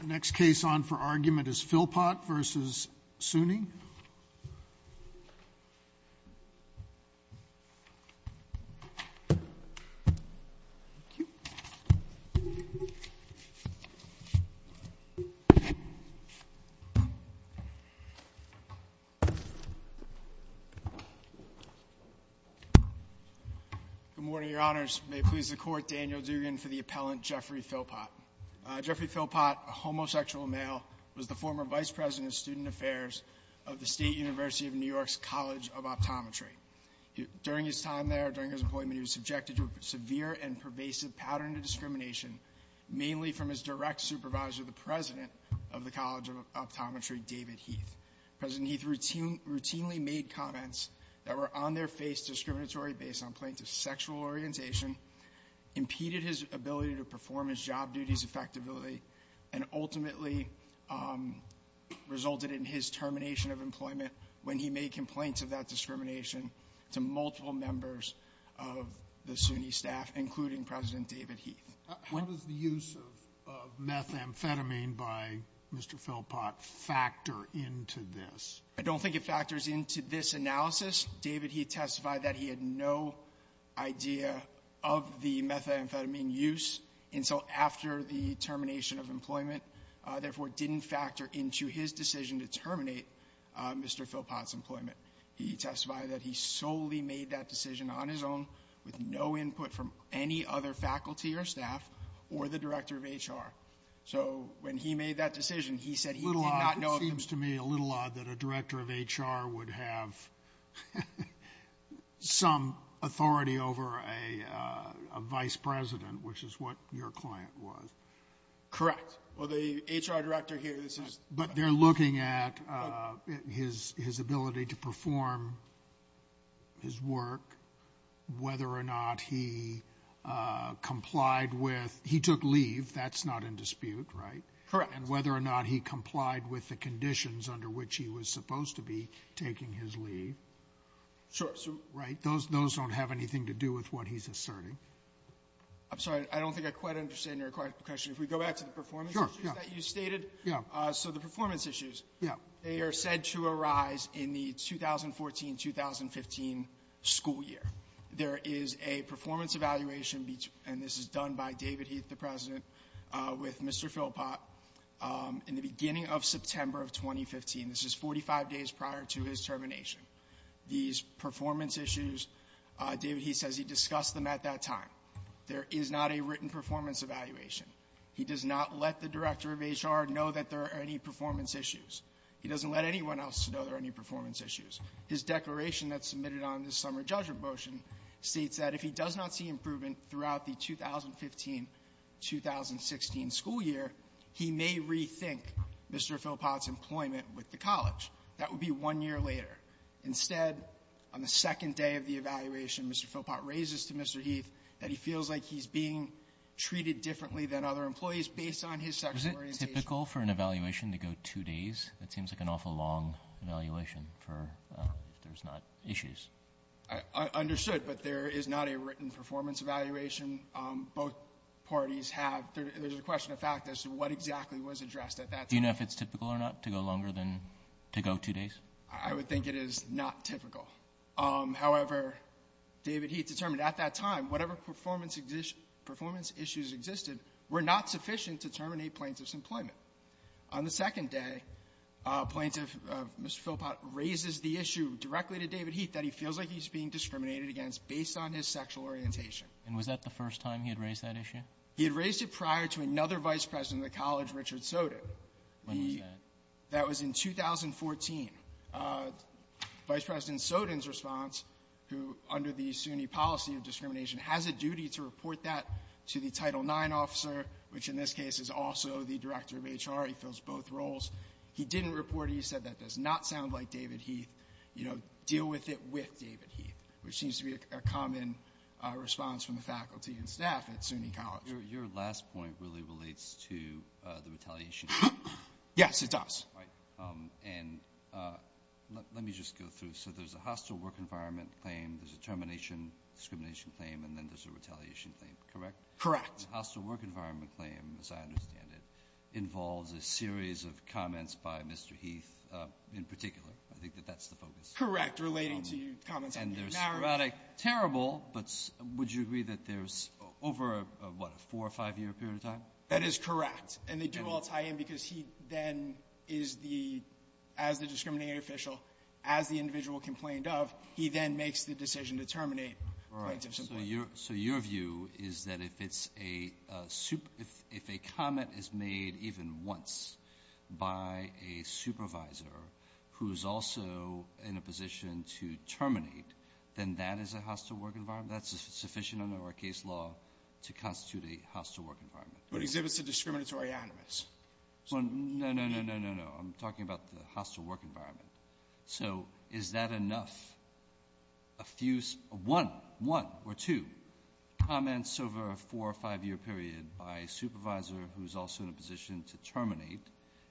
The next case on for argument is Philpott v. SUNY Good morning, Your Honors. May it please the Court, Daniel Dugan for the appellant Jeffrey Philpott. Jeffrey Philpott, a homosexual male, was the former vice president of student affairs of the State University of New York's College of Optometry. During his time there, during his employment, he was subjected to a severe and pervasive pattern of discrimination, mainly from his direct supervisor, the president of the College of Optometry, David Heath. President Heath routinely made comments that were on their face discriminatory based on points of sexual orientation, impeded his ability to perform his job duties effectively, and ultimately resulted in his termination of employment when he made complaints of that discrimination to multiple members of the SUNY staff, including President David Heath. How does the use of methamphetamine by Mr. Philpott factor into this? I don't think it factors into this analysis. David Heath testified that he had no idea of the methamphetamine use until after the termination of employment, therefore, didn't factor into his decision to terminate Mr. Philpott's employment. He testified that he solely made that decision on his own, with no input from any other faculty or staff, or the director of HR. So when he made that decision, he said he did not know of the... It seems to me a little odd that a director of HR would have some authority over a vice president, which is what your client was. Correct. Well, the HR director here, this is... But they're looking at his ability to perform his work, whether or not he complied with he took leave. That's not in dispute, right? Correct. And whether or not he complied with the conditions under which he was supposed to be taking his leave. Sure. So... Right? Those don't have anything to do with what he's asserting. I'm sorry. I don't think I quite understand your question. If we go back to the performance issues that you stated. Yeah. So the performance issues. Yeah. They are said to arise in the 2014-2015 school year. There is a performance evaluation and this is done by David Heath, the President, with Mr. Philpott in the beginning of September of 2015. This is 45 days prior to his termination. These performance issues, David Heath says he discussed them at that time. There is not a written performance evaluation. He does not let the director of HR know that there are any performance issues. He doesn't let anyone else know there are any performance issues. His declaration that's submitted on this summer judgment motion states that if he does not see improvement throughout the 2015-2016 school year, he may rethink Mr. Philpott's employment with the college. That would be one year later. Instead, on the second day of the evaluation, Mr. Philpott raises to Mr. Heath that he feels like he's being treated differently than other employees based on his sexual orientation. Is it typical for an evaluation to go two days? That seems like an awful long evaluation for if there's not issues. I understood, but there is not a written performance evaluation. Both parties have. There's a question of fact as to what exactly was addressed at that time. Do you know if it's typical or not to go longer than to go two days? I would think it is not typical. However, David Heath determined at that time, whatever performance issues existed were not sufficient to terminate plaintiff's employment. On the second day, plaintiff Mr. Philpott raises the issue directly to David Heath that he feels like he's being discriminated against based on his sexual orientation. And was that the first time he had raised that issue? He had raised it prior to another vice president of the college, Richard Soto. When was that? That was in 2014. Vice President Sotin's response, who under the SUNY policy of discrimination, has a duty to report that to the Title IX officer, which in this case is also the director of HR. He fills both roles. He didn't report it. He said that does not sound like David Heath. You know, deal with it with David Heath, which seems to be a common response from the faculty and staff at SUNY College. Your last point really relates to the retaliation. Yes, it does. Right. And let me just go through. So there's a hostile work environment claim, there's a termination discrimination claim, and then there's a retaliation claim, correct? Correct. The hostile work environment claim, as I understand it, involves a series of comments by Mr. Heath in particular. I think that that's the focus. Correct. Relating to your comments. And there's sporadic, terrible, but would you agree that there's over, what, a four- or five-year period of time? That is correct. And they do all tie in because he then is the, as the discriminating official, as the individual complained of, he then makes the decision to terminate points of support. Right. So your view is that if it's a super — if a comment is made even once by a supervisor who is also in a position to terminate, then that is a hostile work environment? That's sufficient under our case law to constitute a hostile work environment? It exhibits a discriminatory animus. No, no, no, no, no, no. I'm talking about the hostile work environment. So is that enough? A few — one, one or two comments over a four- or five-year period by a supervisor who is also in a position to terminate,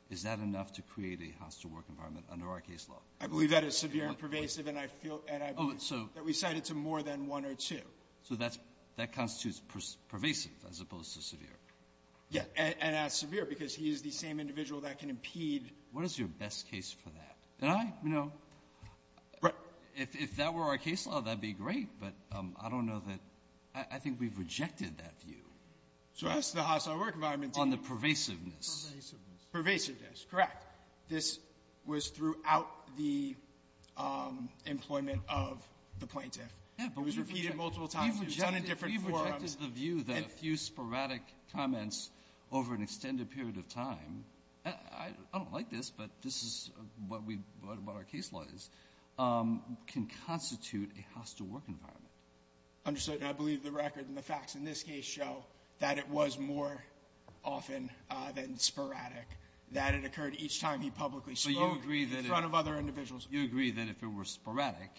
is that enough to create a hostile work environment under our case law? I believe that is severe and pervasive, and I feel — and I believe that we cite it to more than one or two. So that's — that constitutes pervasive as opposed to severe? Yeah. And that's severe because he is the same individual that can impede — What is your best case for that? And I, you know — Right. If that were our case law, that would be great, but I don't know that — I think we've rejected that view. So that's the hostile work environment. On the pervasiveness. Pervasiveness. Correct. This was throughout the employment of the plaintiff. Yeah, but we — We've repeated it multiple times. We've done it in different forums. We've rejected the view that a few sporadic comments over an extended period of time — I don't like this, but this is what we — what our case law is — can constitute a hostile work environment. Understood. And I believe the record and the facts in this case show that it was more often than sporadic, that it occurred each time he publicly spoke in front of other individuals. You agree that if it were sporadic,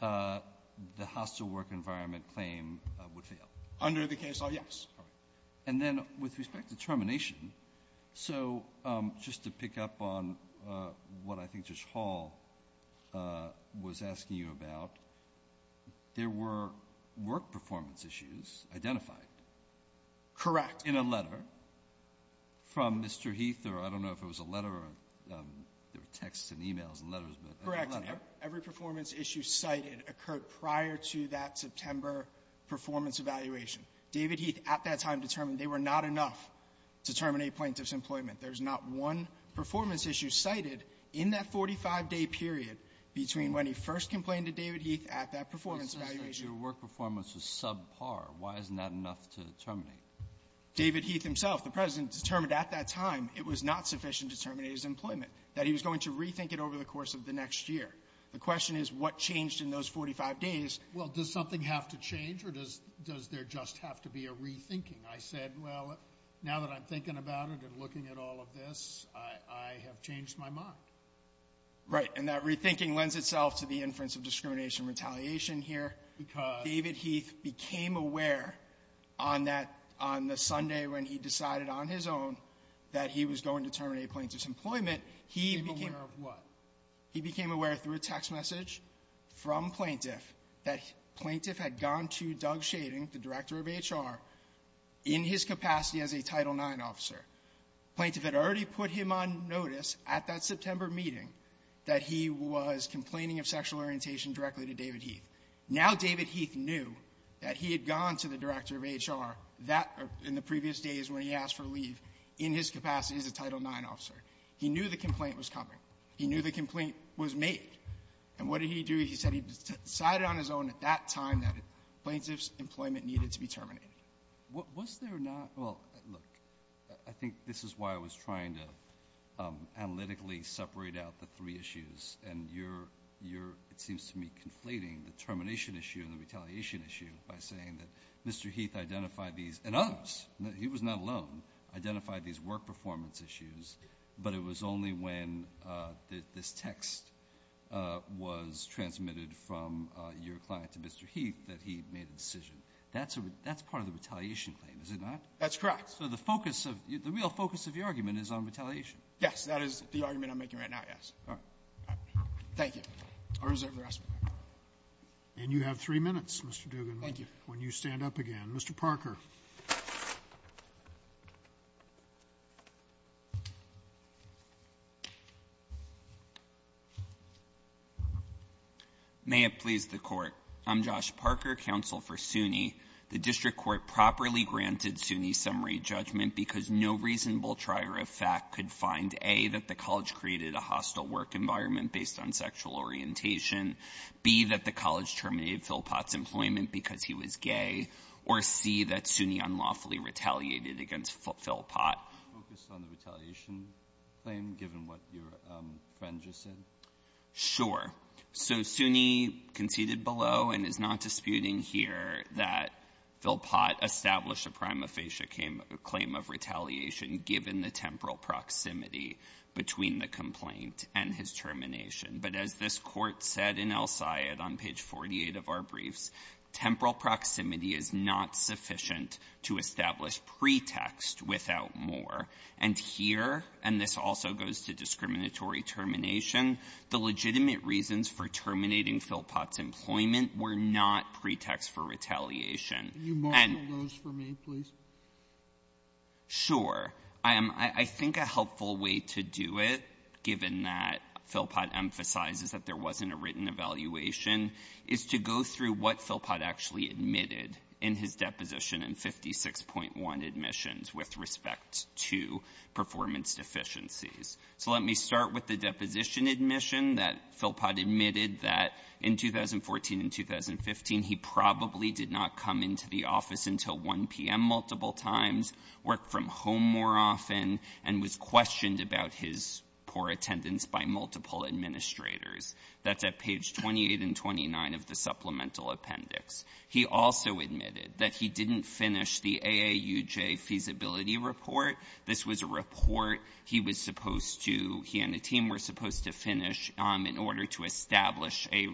the hostile work environment claim would fail? Under the case law, yes. All right. And then with respect to termination, so just to pick up on what I think Judge Hall was asking you about, there were work performance issues identified. Correct. In a letter from Mr. Heath, or I don't know if it was a letter or — there were texts and e-mails and letters, but — Correct. Every performance issue cited occurred prior to that September performance evaluation. David Heath at that time determined they were not enough to terminate plaintiff's employment. There's not one performance issue cited in that 45-day period between when he first complained to David Heath at that performance evaluation. It says that your work performance was subpar. Why isn't that enough to terminate? David Heath himself, the President, determined at that time it was not sufficient to terminate his employment, that he was going to rethink it over the course of the next year. The question is, what changed in those 45 days? Well, does something have to change, or does there just have to be a rethinking? I said, well, now that I'm thinking about it and looking at all of this, I have changed my mind. Right. And that rethinking lends itself to the inference of discrimination retaliation here. Because — David Heath became aware on that — on the Sunday when he decided on his own that he was going to terminate plaintiff's employment, he became — He became aware of what? He became aware through a text message from plaintiff that plaintiff had gone to Doug Shading, the director of HR, in his capacity as a Title IX officer. Plaintiff had already put him on notice at that September meeting that he was complaining of sexual orientation directly to David Heath. Now David Heath knew that he had gone to the director of HR that — in the previous days when he asked for leave, in his capacity as a Title IX officer. He knew the complaint was coming. He knew the complaint was made. And what did he do? He said he decided on his own at that time that plaintiff's employment needed to be terminated. Was there not — well, look, I think this is why I was trying to analytically separate out the three issues, and you're — you're, it seems to me, conflating the termination issue and the retaliation issue by saying that Mr. Heath identified these — and others, he was not alone — identified these work performance issues, but it was only when this text was transmitted from your client to Mr. Heath that he made a decision. That's a — that's part of the retaliation claim, is it not? That's correct. So the focus of — the real focus of your argument is on retaliation. Yes. That is the argument I'm making right now, yes. All right. Thank you. I'll reserve the rest of it. And you have three minutes, Mr. Duggan. Thank you. When you stand up again. Mr. Parker. May it please the Court. I'm Josh Parker, counsel for SUNY. The district court properly granted SUNY's summary judgment because no reasonable trier of fact could find, A, that the college created a hostile work environment based on sexual orientation, B, that the college terminated Philpott's employment because he was gay, or C, that SUNY unlawfully retaliated against Philpott. Can you focus on the retaliation claim, given what your friend just said? Sure. So SUNY conceded below and is not disputing here that Philpott established a prima facie claim of retaliation given the temporal proximity between the complaint and his termination. But as this Court said in El Sayed on page 48 of our briefs, temporal proximity is not sufficient to establish pretext without more. And here, and this also goes to discriminatory termination, the legitimate reasons for terminating Philpott's employment were not pretext for retaliation. And you marshaled those for me, please. Sure. I am — I think a helpful way to do it, given that Philpott emphasizes that there wasn't a written evaluation, is to go through what Philpott actually admitted in his deposition in 56.1 admissions with respect to performance deficiencies. So let me start with the deposition admission that Philpott admitted that in 2014 and 2015, he probably did not come into the office until 1 p.m. multiple times, worked from home more often, and was questioned about his poor attendance by multiple administrators. That's at page 28 and 29 of the supplemental appendix. He also admitted that he didn't finish the AAUJ feasibility report. This was a report he was supposed to — he and a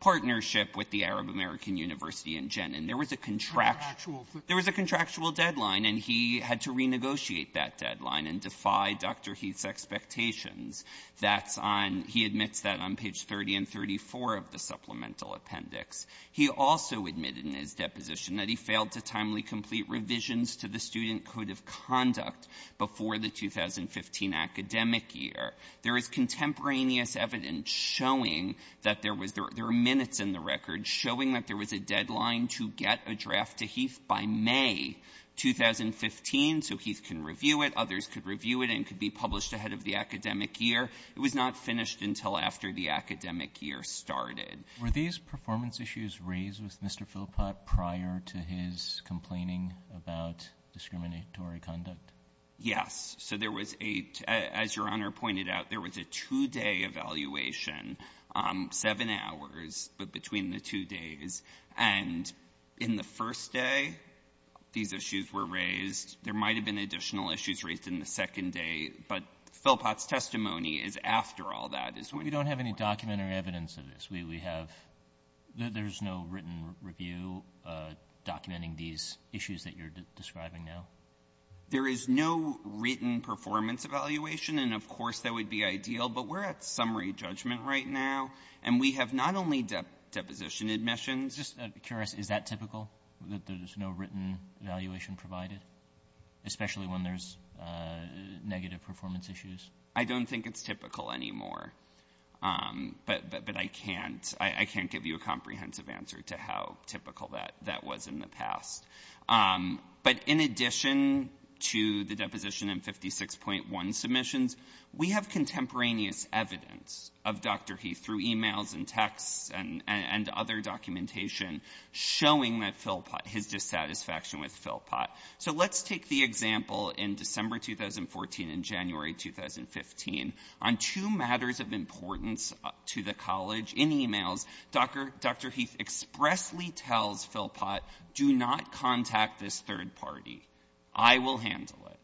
partnership with the Arab American University in Jenin. There was a contractual — There was a contractual deadline, and he had to renegotiate that deadline and defy Dr. Heath's expectations. That's on — he admits that on page 30 and 34 of the supplemental appendix. He also admitted in his deposition that he failed to timely complete revisions to the Student Code of Conduct before the 2015 academic year. There is contemporaneous evidence showing that there was — there are minutes in the record showing that there was a deadline to get a draft to Heath by May 2015 so Heath can review it, others could review it, and it could be published ahead of the academic year. It was not finished until after the academic year started. Were these performance issues raised with Mr. Philpott prior to his complaining about discriminatory conduct? Yes. So there was a — as Your Honor pointed out, there was a two-day evaluation, seven hours, but between the two days. And in the first day, these issues were raised. There might have been additional issues raised in the second day, but Philpott's testimony is after all that. We don't have any document or evidence of this. We have — there's no written review documenting these issues that you're describing now? There is no written performance evaluation, and of course, that would be ideal. But we're at summary judgment right now, and we have not only deposition admissions — Just curious, is that typical, that there's no written evaluation provided, especially when there's negative performance issues? I don't think it's typical anymore. But I can't — I can't give you a comprehensive answer to how typical that was in the past. But in addition to the deposition and 56.1 submissions, we have contemporaneous evidence of Dr. Heath through e-mails and texts and other documentation showing that Philpott — his dissatisfaction with Philpott. So let's take the example in December 2014 and January 2015 on two matters of the college. In e-mails, Dr. — Dr. Heath expressly tells Philpott, do not contact this third party. I will handle it.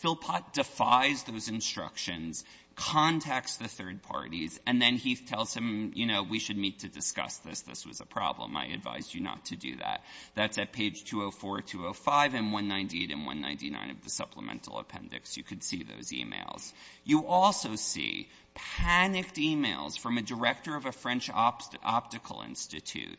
Philpott defies those instructions, contacts the third parties, and then Heath tells him, you know, we should meet to discuss this. This was a problem. I advise you not to do that. That's at page 204, 205, and 198 and 199 of the supplemental appendix. You could see those e-mails. You also see panicked e-mails from a director of a French optical institute,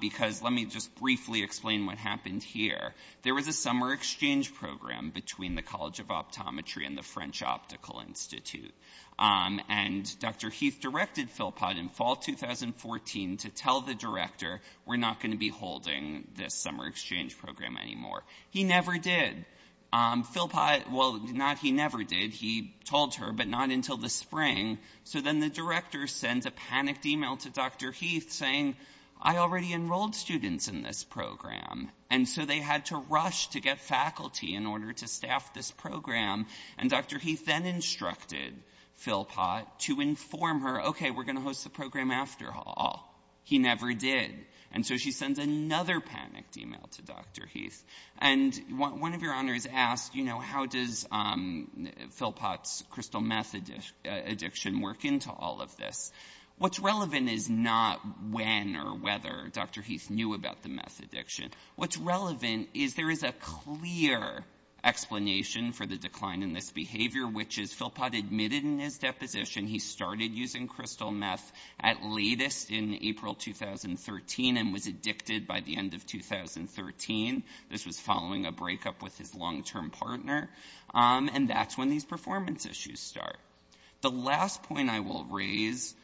because let me just briefly explain what happened here. There was a summer exchange program between the College of Optometry and the French Optical Institute. And Dr. Heath directed Philpott in fall 2014 to tell the director, we're not going to be holding this summer exchange program anymore. He never did. Philpott — well, not he never did. He told her, but not until the spring. So then the director sends a panicked e-mail to Dr. Heath saying, I already enrolled students in this program. And so they had to rush to get faculty in order to staff this program. And Dr. Heath then instructed Philpott to inform her, OK, we're going to host the program after all. He never did. And so she sends another panicked e-mail to Dr. Heath. And one of your honors asked, you know, how does Philpott's crystal meth addiction work into all of this? What's relevant is not when or whether Dr. Heath knew about the meth addiction. What's relevant is there is a clear explanation for the decline in this behavior, which is Philpott admitted in his deposition he started using in April 2013 and was addicted by the end of 2013. This was following a breakup with his long-term partner. And that's when these performance issues start. The last point I will raise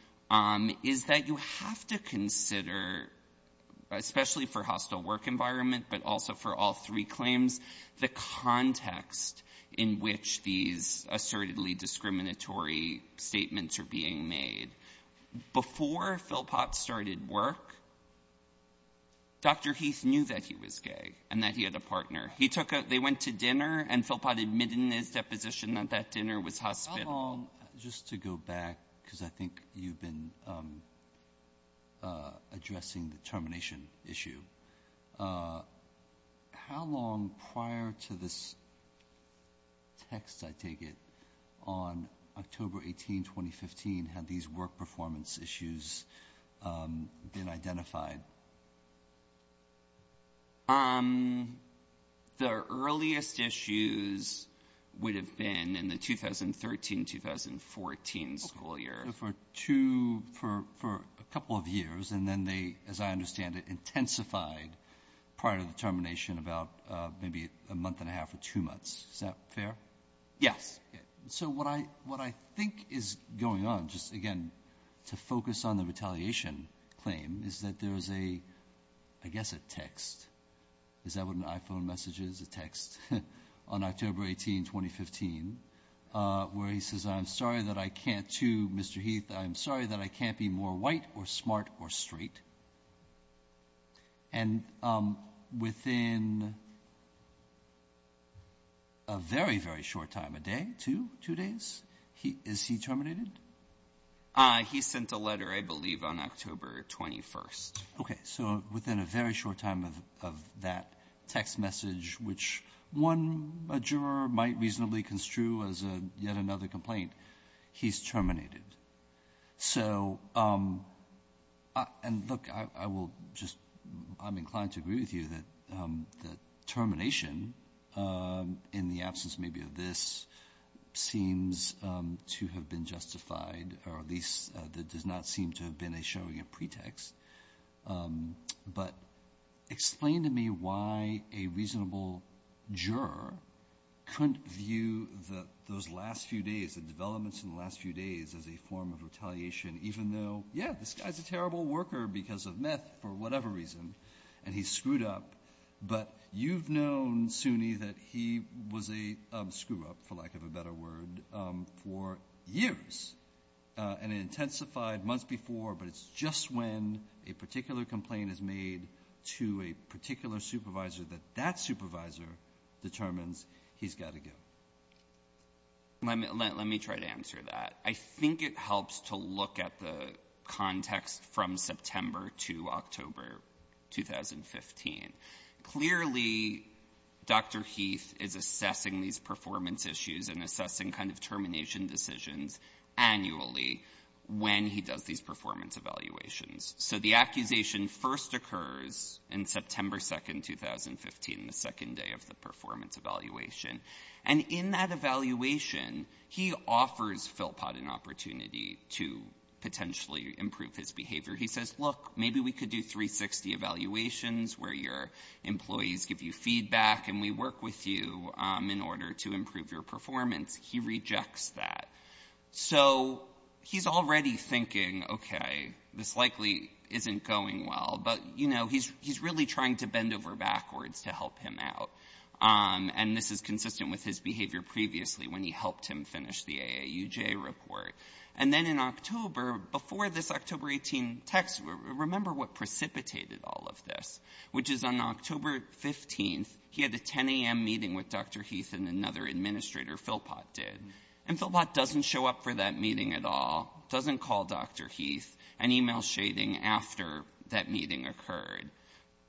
is that you have to consider, especially for hostile work environment, but also for all three claims, the context in which these assertedly discriminatory statements are being made. Before Philpott started work, Dr. Heath knew that he was gay and that he had a partner. He took out, they went to dinner and Philpott admitted in his deposition that that dinner was hospitable. Just to go back, because I think you've been addressing the termination issue. How long prior to this text, I take it, on October 18, 2015, had these work performance issues been identified? The earliest issues would have been in the 2013-2014 school year. For two, for a couple of years, and then they, as I understand it, intensified prior to the termination about maybe a month and a half or two months. Is that fair? Yes. So what I think is going on, just again to focus on the retaliation claim, is that there is a, I guess a text. Is that what an iPhone message is? A text on October 18, 2015, where he says, I'm sorry that I can't, to Mr. Heath, I'm sorry that I can't be more white or smart or straight. And within a very, very short time, a day, two, two days, is he terminated? He sent a letter, I believe, on October 21. Okay. So within a very short time of that text message, which one juror might reasonably construe as yet another complaint, he's terminated. So, and look, I will just, I'm inclined to agree with you that termination, in the absence maybe of this, seems to have been justified, or at least that does not seem to have been a showing of pretext. But explain to me why a reasonable juror couldn't view those last few days, the developments in the last few days, as a form of retaliation, even though, yeah, this guy's a terrible worker because of meth, for whatever reason, and he's screwed up. But you've known, Sunni, that he was a screw-up, for lack of a better word, for years. And it intensified months before, but it's just when a particular complaint is made to a particular supervisor, that that supervisor determines he's got to go. Let me try to answer that. I think it helps to look at the context from September to October 2015. Clearly, Dr. Heath is assessing these performance issues and assessing kind of termination decisions annually when he does these performance evaluations. So the accusation first occurs in September 2, 2015, the second day of the performance evaluation. And in that evaluation, he offers Philpott an opportunity to potentially improve his behavior. He says, look, maybe we could do 360 evaluations where your employees give you feedback and we work with you in order to improve your performance. He rejects that. So he's already thinking, okay, this likely isn't going well. But, you know, he's really trying to bend over the edge, and this is consistent with his behavior previously when he helped him finish the AAUJ report. And then in October, before this October 18 text, remember what precipitated all of this, which is on October 15th, he had a 10 a.m. meeting with Dr. Heath and another administrator, Philpott, did. And Philpott doesn't show up for that meeting at all, doesn't call Dr. Heath, and emails Shading after that meeting occurred.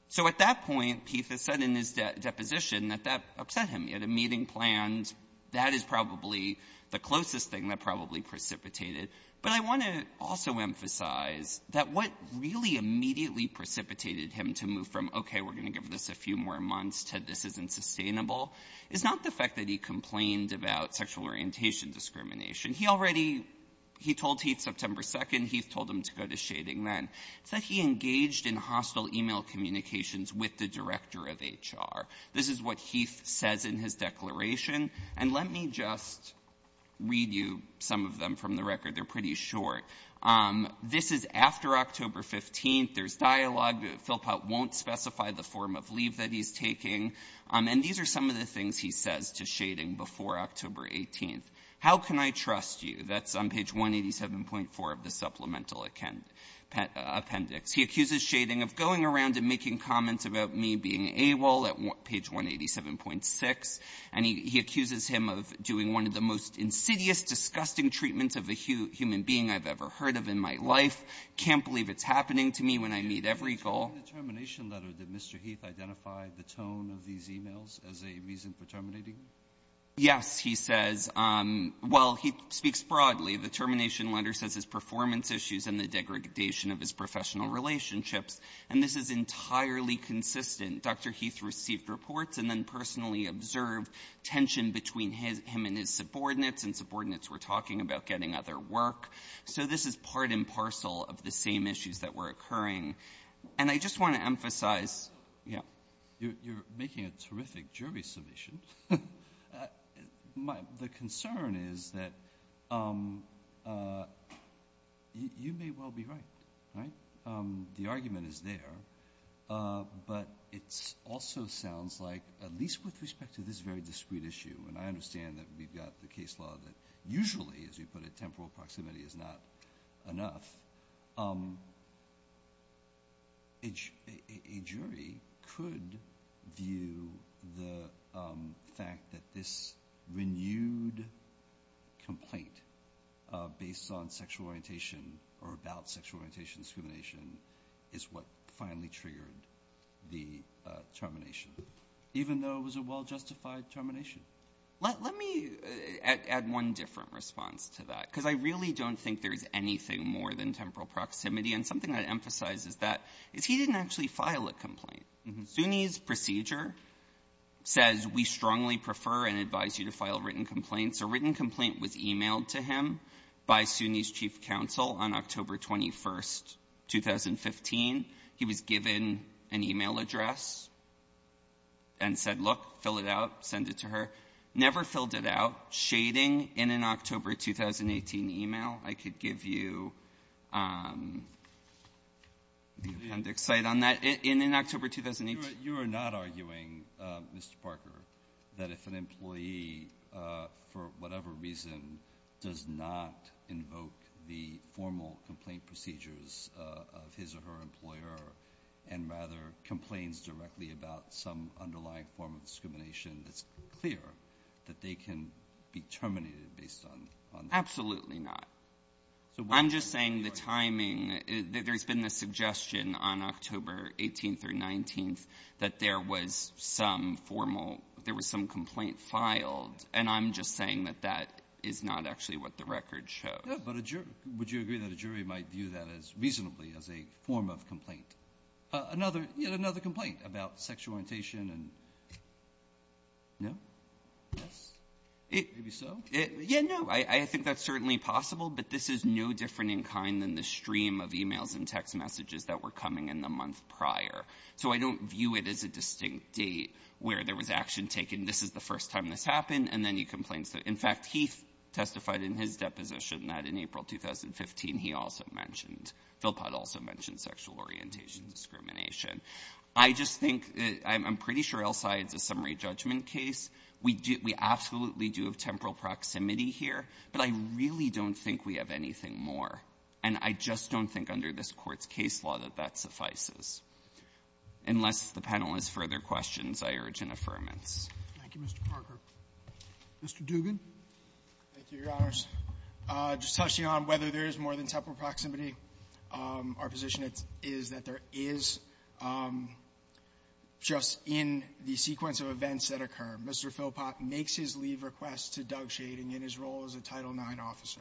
So at that point, Heath has said in his deposition that that upset him. He had a meeting planned. That is probably the closest thing that probably precipitated. But I want to also emphasize that what really immediately precipitated him to move from, okay, we're going to give this a few more months to this isn't sustainable, is not the fact that he complained about sexual orientation discrimination. He already he told Heath September 2, Heath told him to go to Shading then. It's that he engaged in hostile email communications with the director of HR. This is what Heath says in his declaration, and let me just read you some of them from the record. They're pretty short. This is after October 15th. There's dialogue. Philpott won't specify the form of leave that he's taking. And these are some of the things he says to Shading before October 18th. How can I trust you? That's on page 187.4 of the Supplemental Appendix. He accuses Shading of going around and making comments about me being AWOL at page 187.6, and he accuses him of doing one of the most insidious, disgusting treatments of a human being I've ever heard of in my life. Can't believe it's happening to me when I meet every girl. Breyer. In the termination letter, did Mr. Heath identify the tone of these emails as a reason for terminating him? Yes, he says. Well, he speaks broadly. The termination letter says his performance issues and the degradation of his professional relationships, and this is entirely consistent. Dr. Heath received reports and then personally observed tension between his — him and his subordinates, and subordinates were talking about getting other work. So this is part and parcel of the same issues that were occurring. And I just want to emphasize — yeah. You're making a terrific jury submission. The concern is that you may well be right. The argument is there, but it also sounds like, at least with respect to this very discrete issue, and I understand that we've got the case law that usually, as you put it, temporal proximity is not enough, a jury could view the fact that this renewed complaint based on sexual orientation or about sexual orientation discrimination is what finally triggered the termination, even though it was a well-justified termination. Let me add one different response to that, because I really don't think there's anything more than temporal proximity. And something that emphasizes that is he didn't actually file a complaint. SUNY's procedure says we strongly prefer and advise you to file written complaints. A written complaint was emailed to him by SUNY's chief counsel on October 21st, 2015. He was given an e-mail address and said, look, fill it out, send it to her. Never filled it out. Shading in an October 2018 e-mail, I could give you the appendix cite on that. In October 2018 — Breyer. You are not arguing, Mr. Parker, that if an employee, for whatever reason, does not invoke the formal complaint procedures of his or her employer, and rather complains directly about some underlying form of discrimination, it's clear that they can be terminated based on that? SUNY. Absolutely not. I'm just saying the timing — there's been the suggestion on October 18th or 19th that there was some formal — there was some complaint filed, and I'm just saying that that is not actually what the record shows. Breyer. Yeah, but would you agree that a jury might view that as — reasonably as a form of complaint? Another — yet another complaint about sexual orientation and — no? SUNY. Yes. Breyer. It — SUNY. Maybe so? Breyer. Yeah, no. I think that's certainly possible, but this is no different in kind than the stream of e-mails and text messages that were coming in the month prior. So I don't view it as a distinct date where there was action taken, this is the first time this happened, and then he complains that — in fact, he testified in his deposition that in April 2015, he also mentioned — Philpott also mentioned sexual orientation discrimination. I just think — I'm pretty sure Elside's a summary judgment case. We do — we absolutely do have temporal proximity here, but I really don't think we have anything more, and I just don't think under this Court's case law that that suffices. Unless the panel has further questions, I urge an affirmance. Roberts. Thank you, Mr. Parker. Mr. Duggan. Duggan. Thank you, Your Honors. Just touching on whether there is more than temporal proximity, our position is that there is, just in the sequence of events that occur, Mr. Philpott makes his leave request to Doug Shading in his role as a Title IX officer.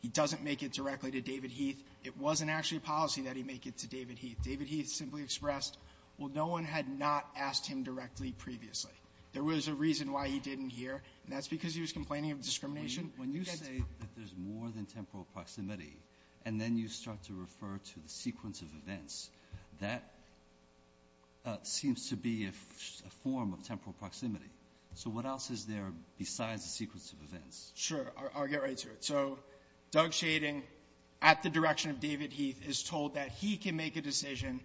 He doesn't make it directly to David Heath. It wasn't actually a policy that he make it to David Heath. David Heath simply expressed, well, no one had not asked him directly previously. There was a reason why he didn't hear, and that's because he was complaining Alito. When you say that there's more than temporal proximity, and then you start to refer to the sequence of events, that seems to be a form of temporal proximity. So what else is there besides the sequence of events? Duggan. Sure. I'll get right to it. So Doug Shading, at the direction of David Heath, is told that he can make a decision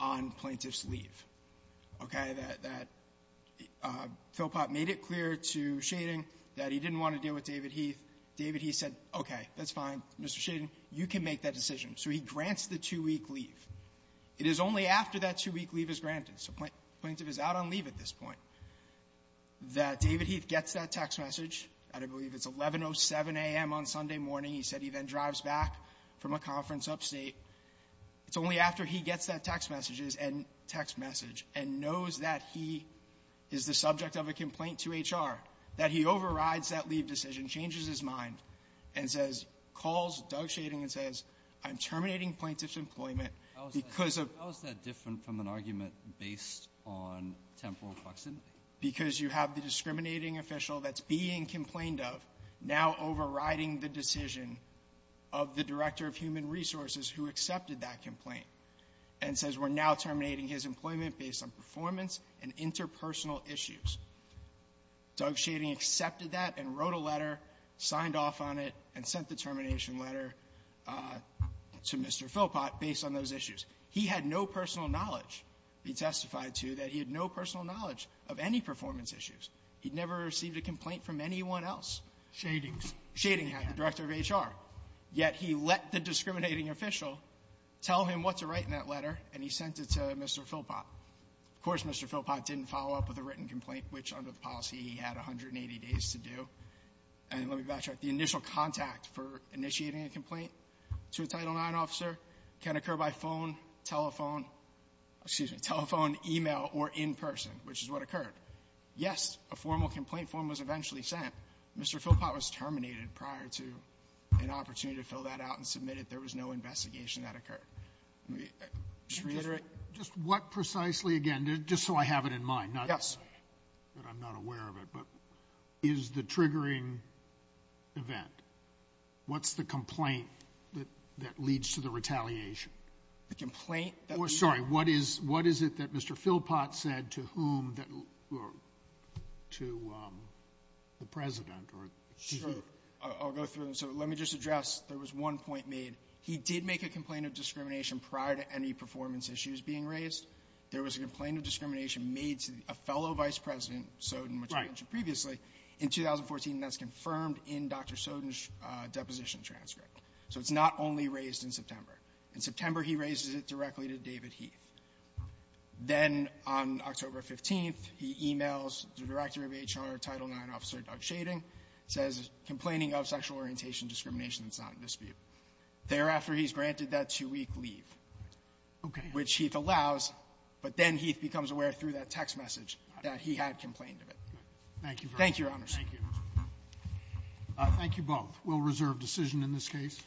on plaintiff's leave. Okay? That — that Philpott made it clear to Shading that he didn't want to deal with David Heath. David Heath said, okay, that's fine, Mr. Shading, you can make that decision. So he grants the two-week leave. It is only after that two-week leave is granted — so plaintiff is out on leave at this point — that David Heath gets that text message at, I believe, it's 1107 a.m. on Sunday morning. He said he then drives back from a conference upstate. It's only after he gets that text message — text message — is the subject of a complaint to HR that he overrides that leave decision, changes his mind, and says — calls Doug Shading and says, I'm terminating plaintiff's employment because of — How is that different from an argument based on temporal proximity? Because you have the discriminating official that's being complained of now overriding the decision of the director of human resources who accepted that complaint, and says we're now terminating his employment based on performance and interpersonal issues. Doug Shading accepted that and wrote a letter, signed off on it, and sent the termination letter to Mr. Philpott based on those issues. He had no personal knowledge, he testified to, that he had no personal knowledge of any performance issues. He'd never received a complaint from anyone else. Roberts. Shadings. Shading had, the director of HR. Yet he let the discriminating official tell him what to write in that letter, and he sent it to Mr. Philpott. Of course, Mr. Philpott didn't follow up with a written complaint, which under the policy he had 180 days to do. And let me backtrack. The initial contact for initiating a complaint to a Title IX officer can occur by phone, telephone — excuse me — telephone, email, or in person, which is what occurred. Yes, a formal complaint form was eventually sent. Mr. Philpott was terminated prior to an opportunity to fill that out and submitted. There was no investigation that occurred. Let me just reiterate. Just what precisely, again, just so I have it in mind, not that I'm not aware of it, but is the triggering event? What's the complaint that leads to the retaliation? The complaint that was — Oh, sorry. What is it that Mr. Philpott said to whom that — to the President or to who? I'll go through them. So let me just address — there was one point made. He did make a complaint of discrimination prior to any performance issues being raised. There was a complaint of discrimination made to a fellow Vice President, Soden, which I mentioned previously. In 2014, that's confirmed in Dr. Soden's deposition transcript. So it's not only raised in September. In September, he raises it directly to David Heath. Then, on October 15th, he emails the Director of HR, Title IX Officer Doug Schading, says, Complaining of sexual orientation discrimination is not in dispute. Thereafter, he's granted that two-week leave, which Heath allows, but then Heath becomes aware through that text message that he had complained of it. Thank you, Your Honors. Thank you. Thank you both. We'll reserve decision in this case.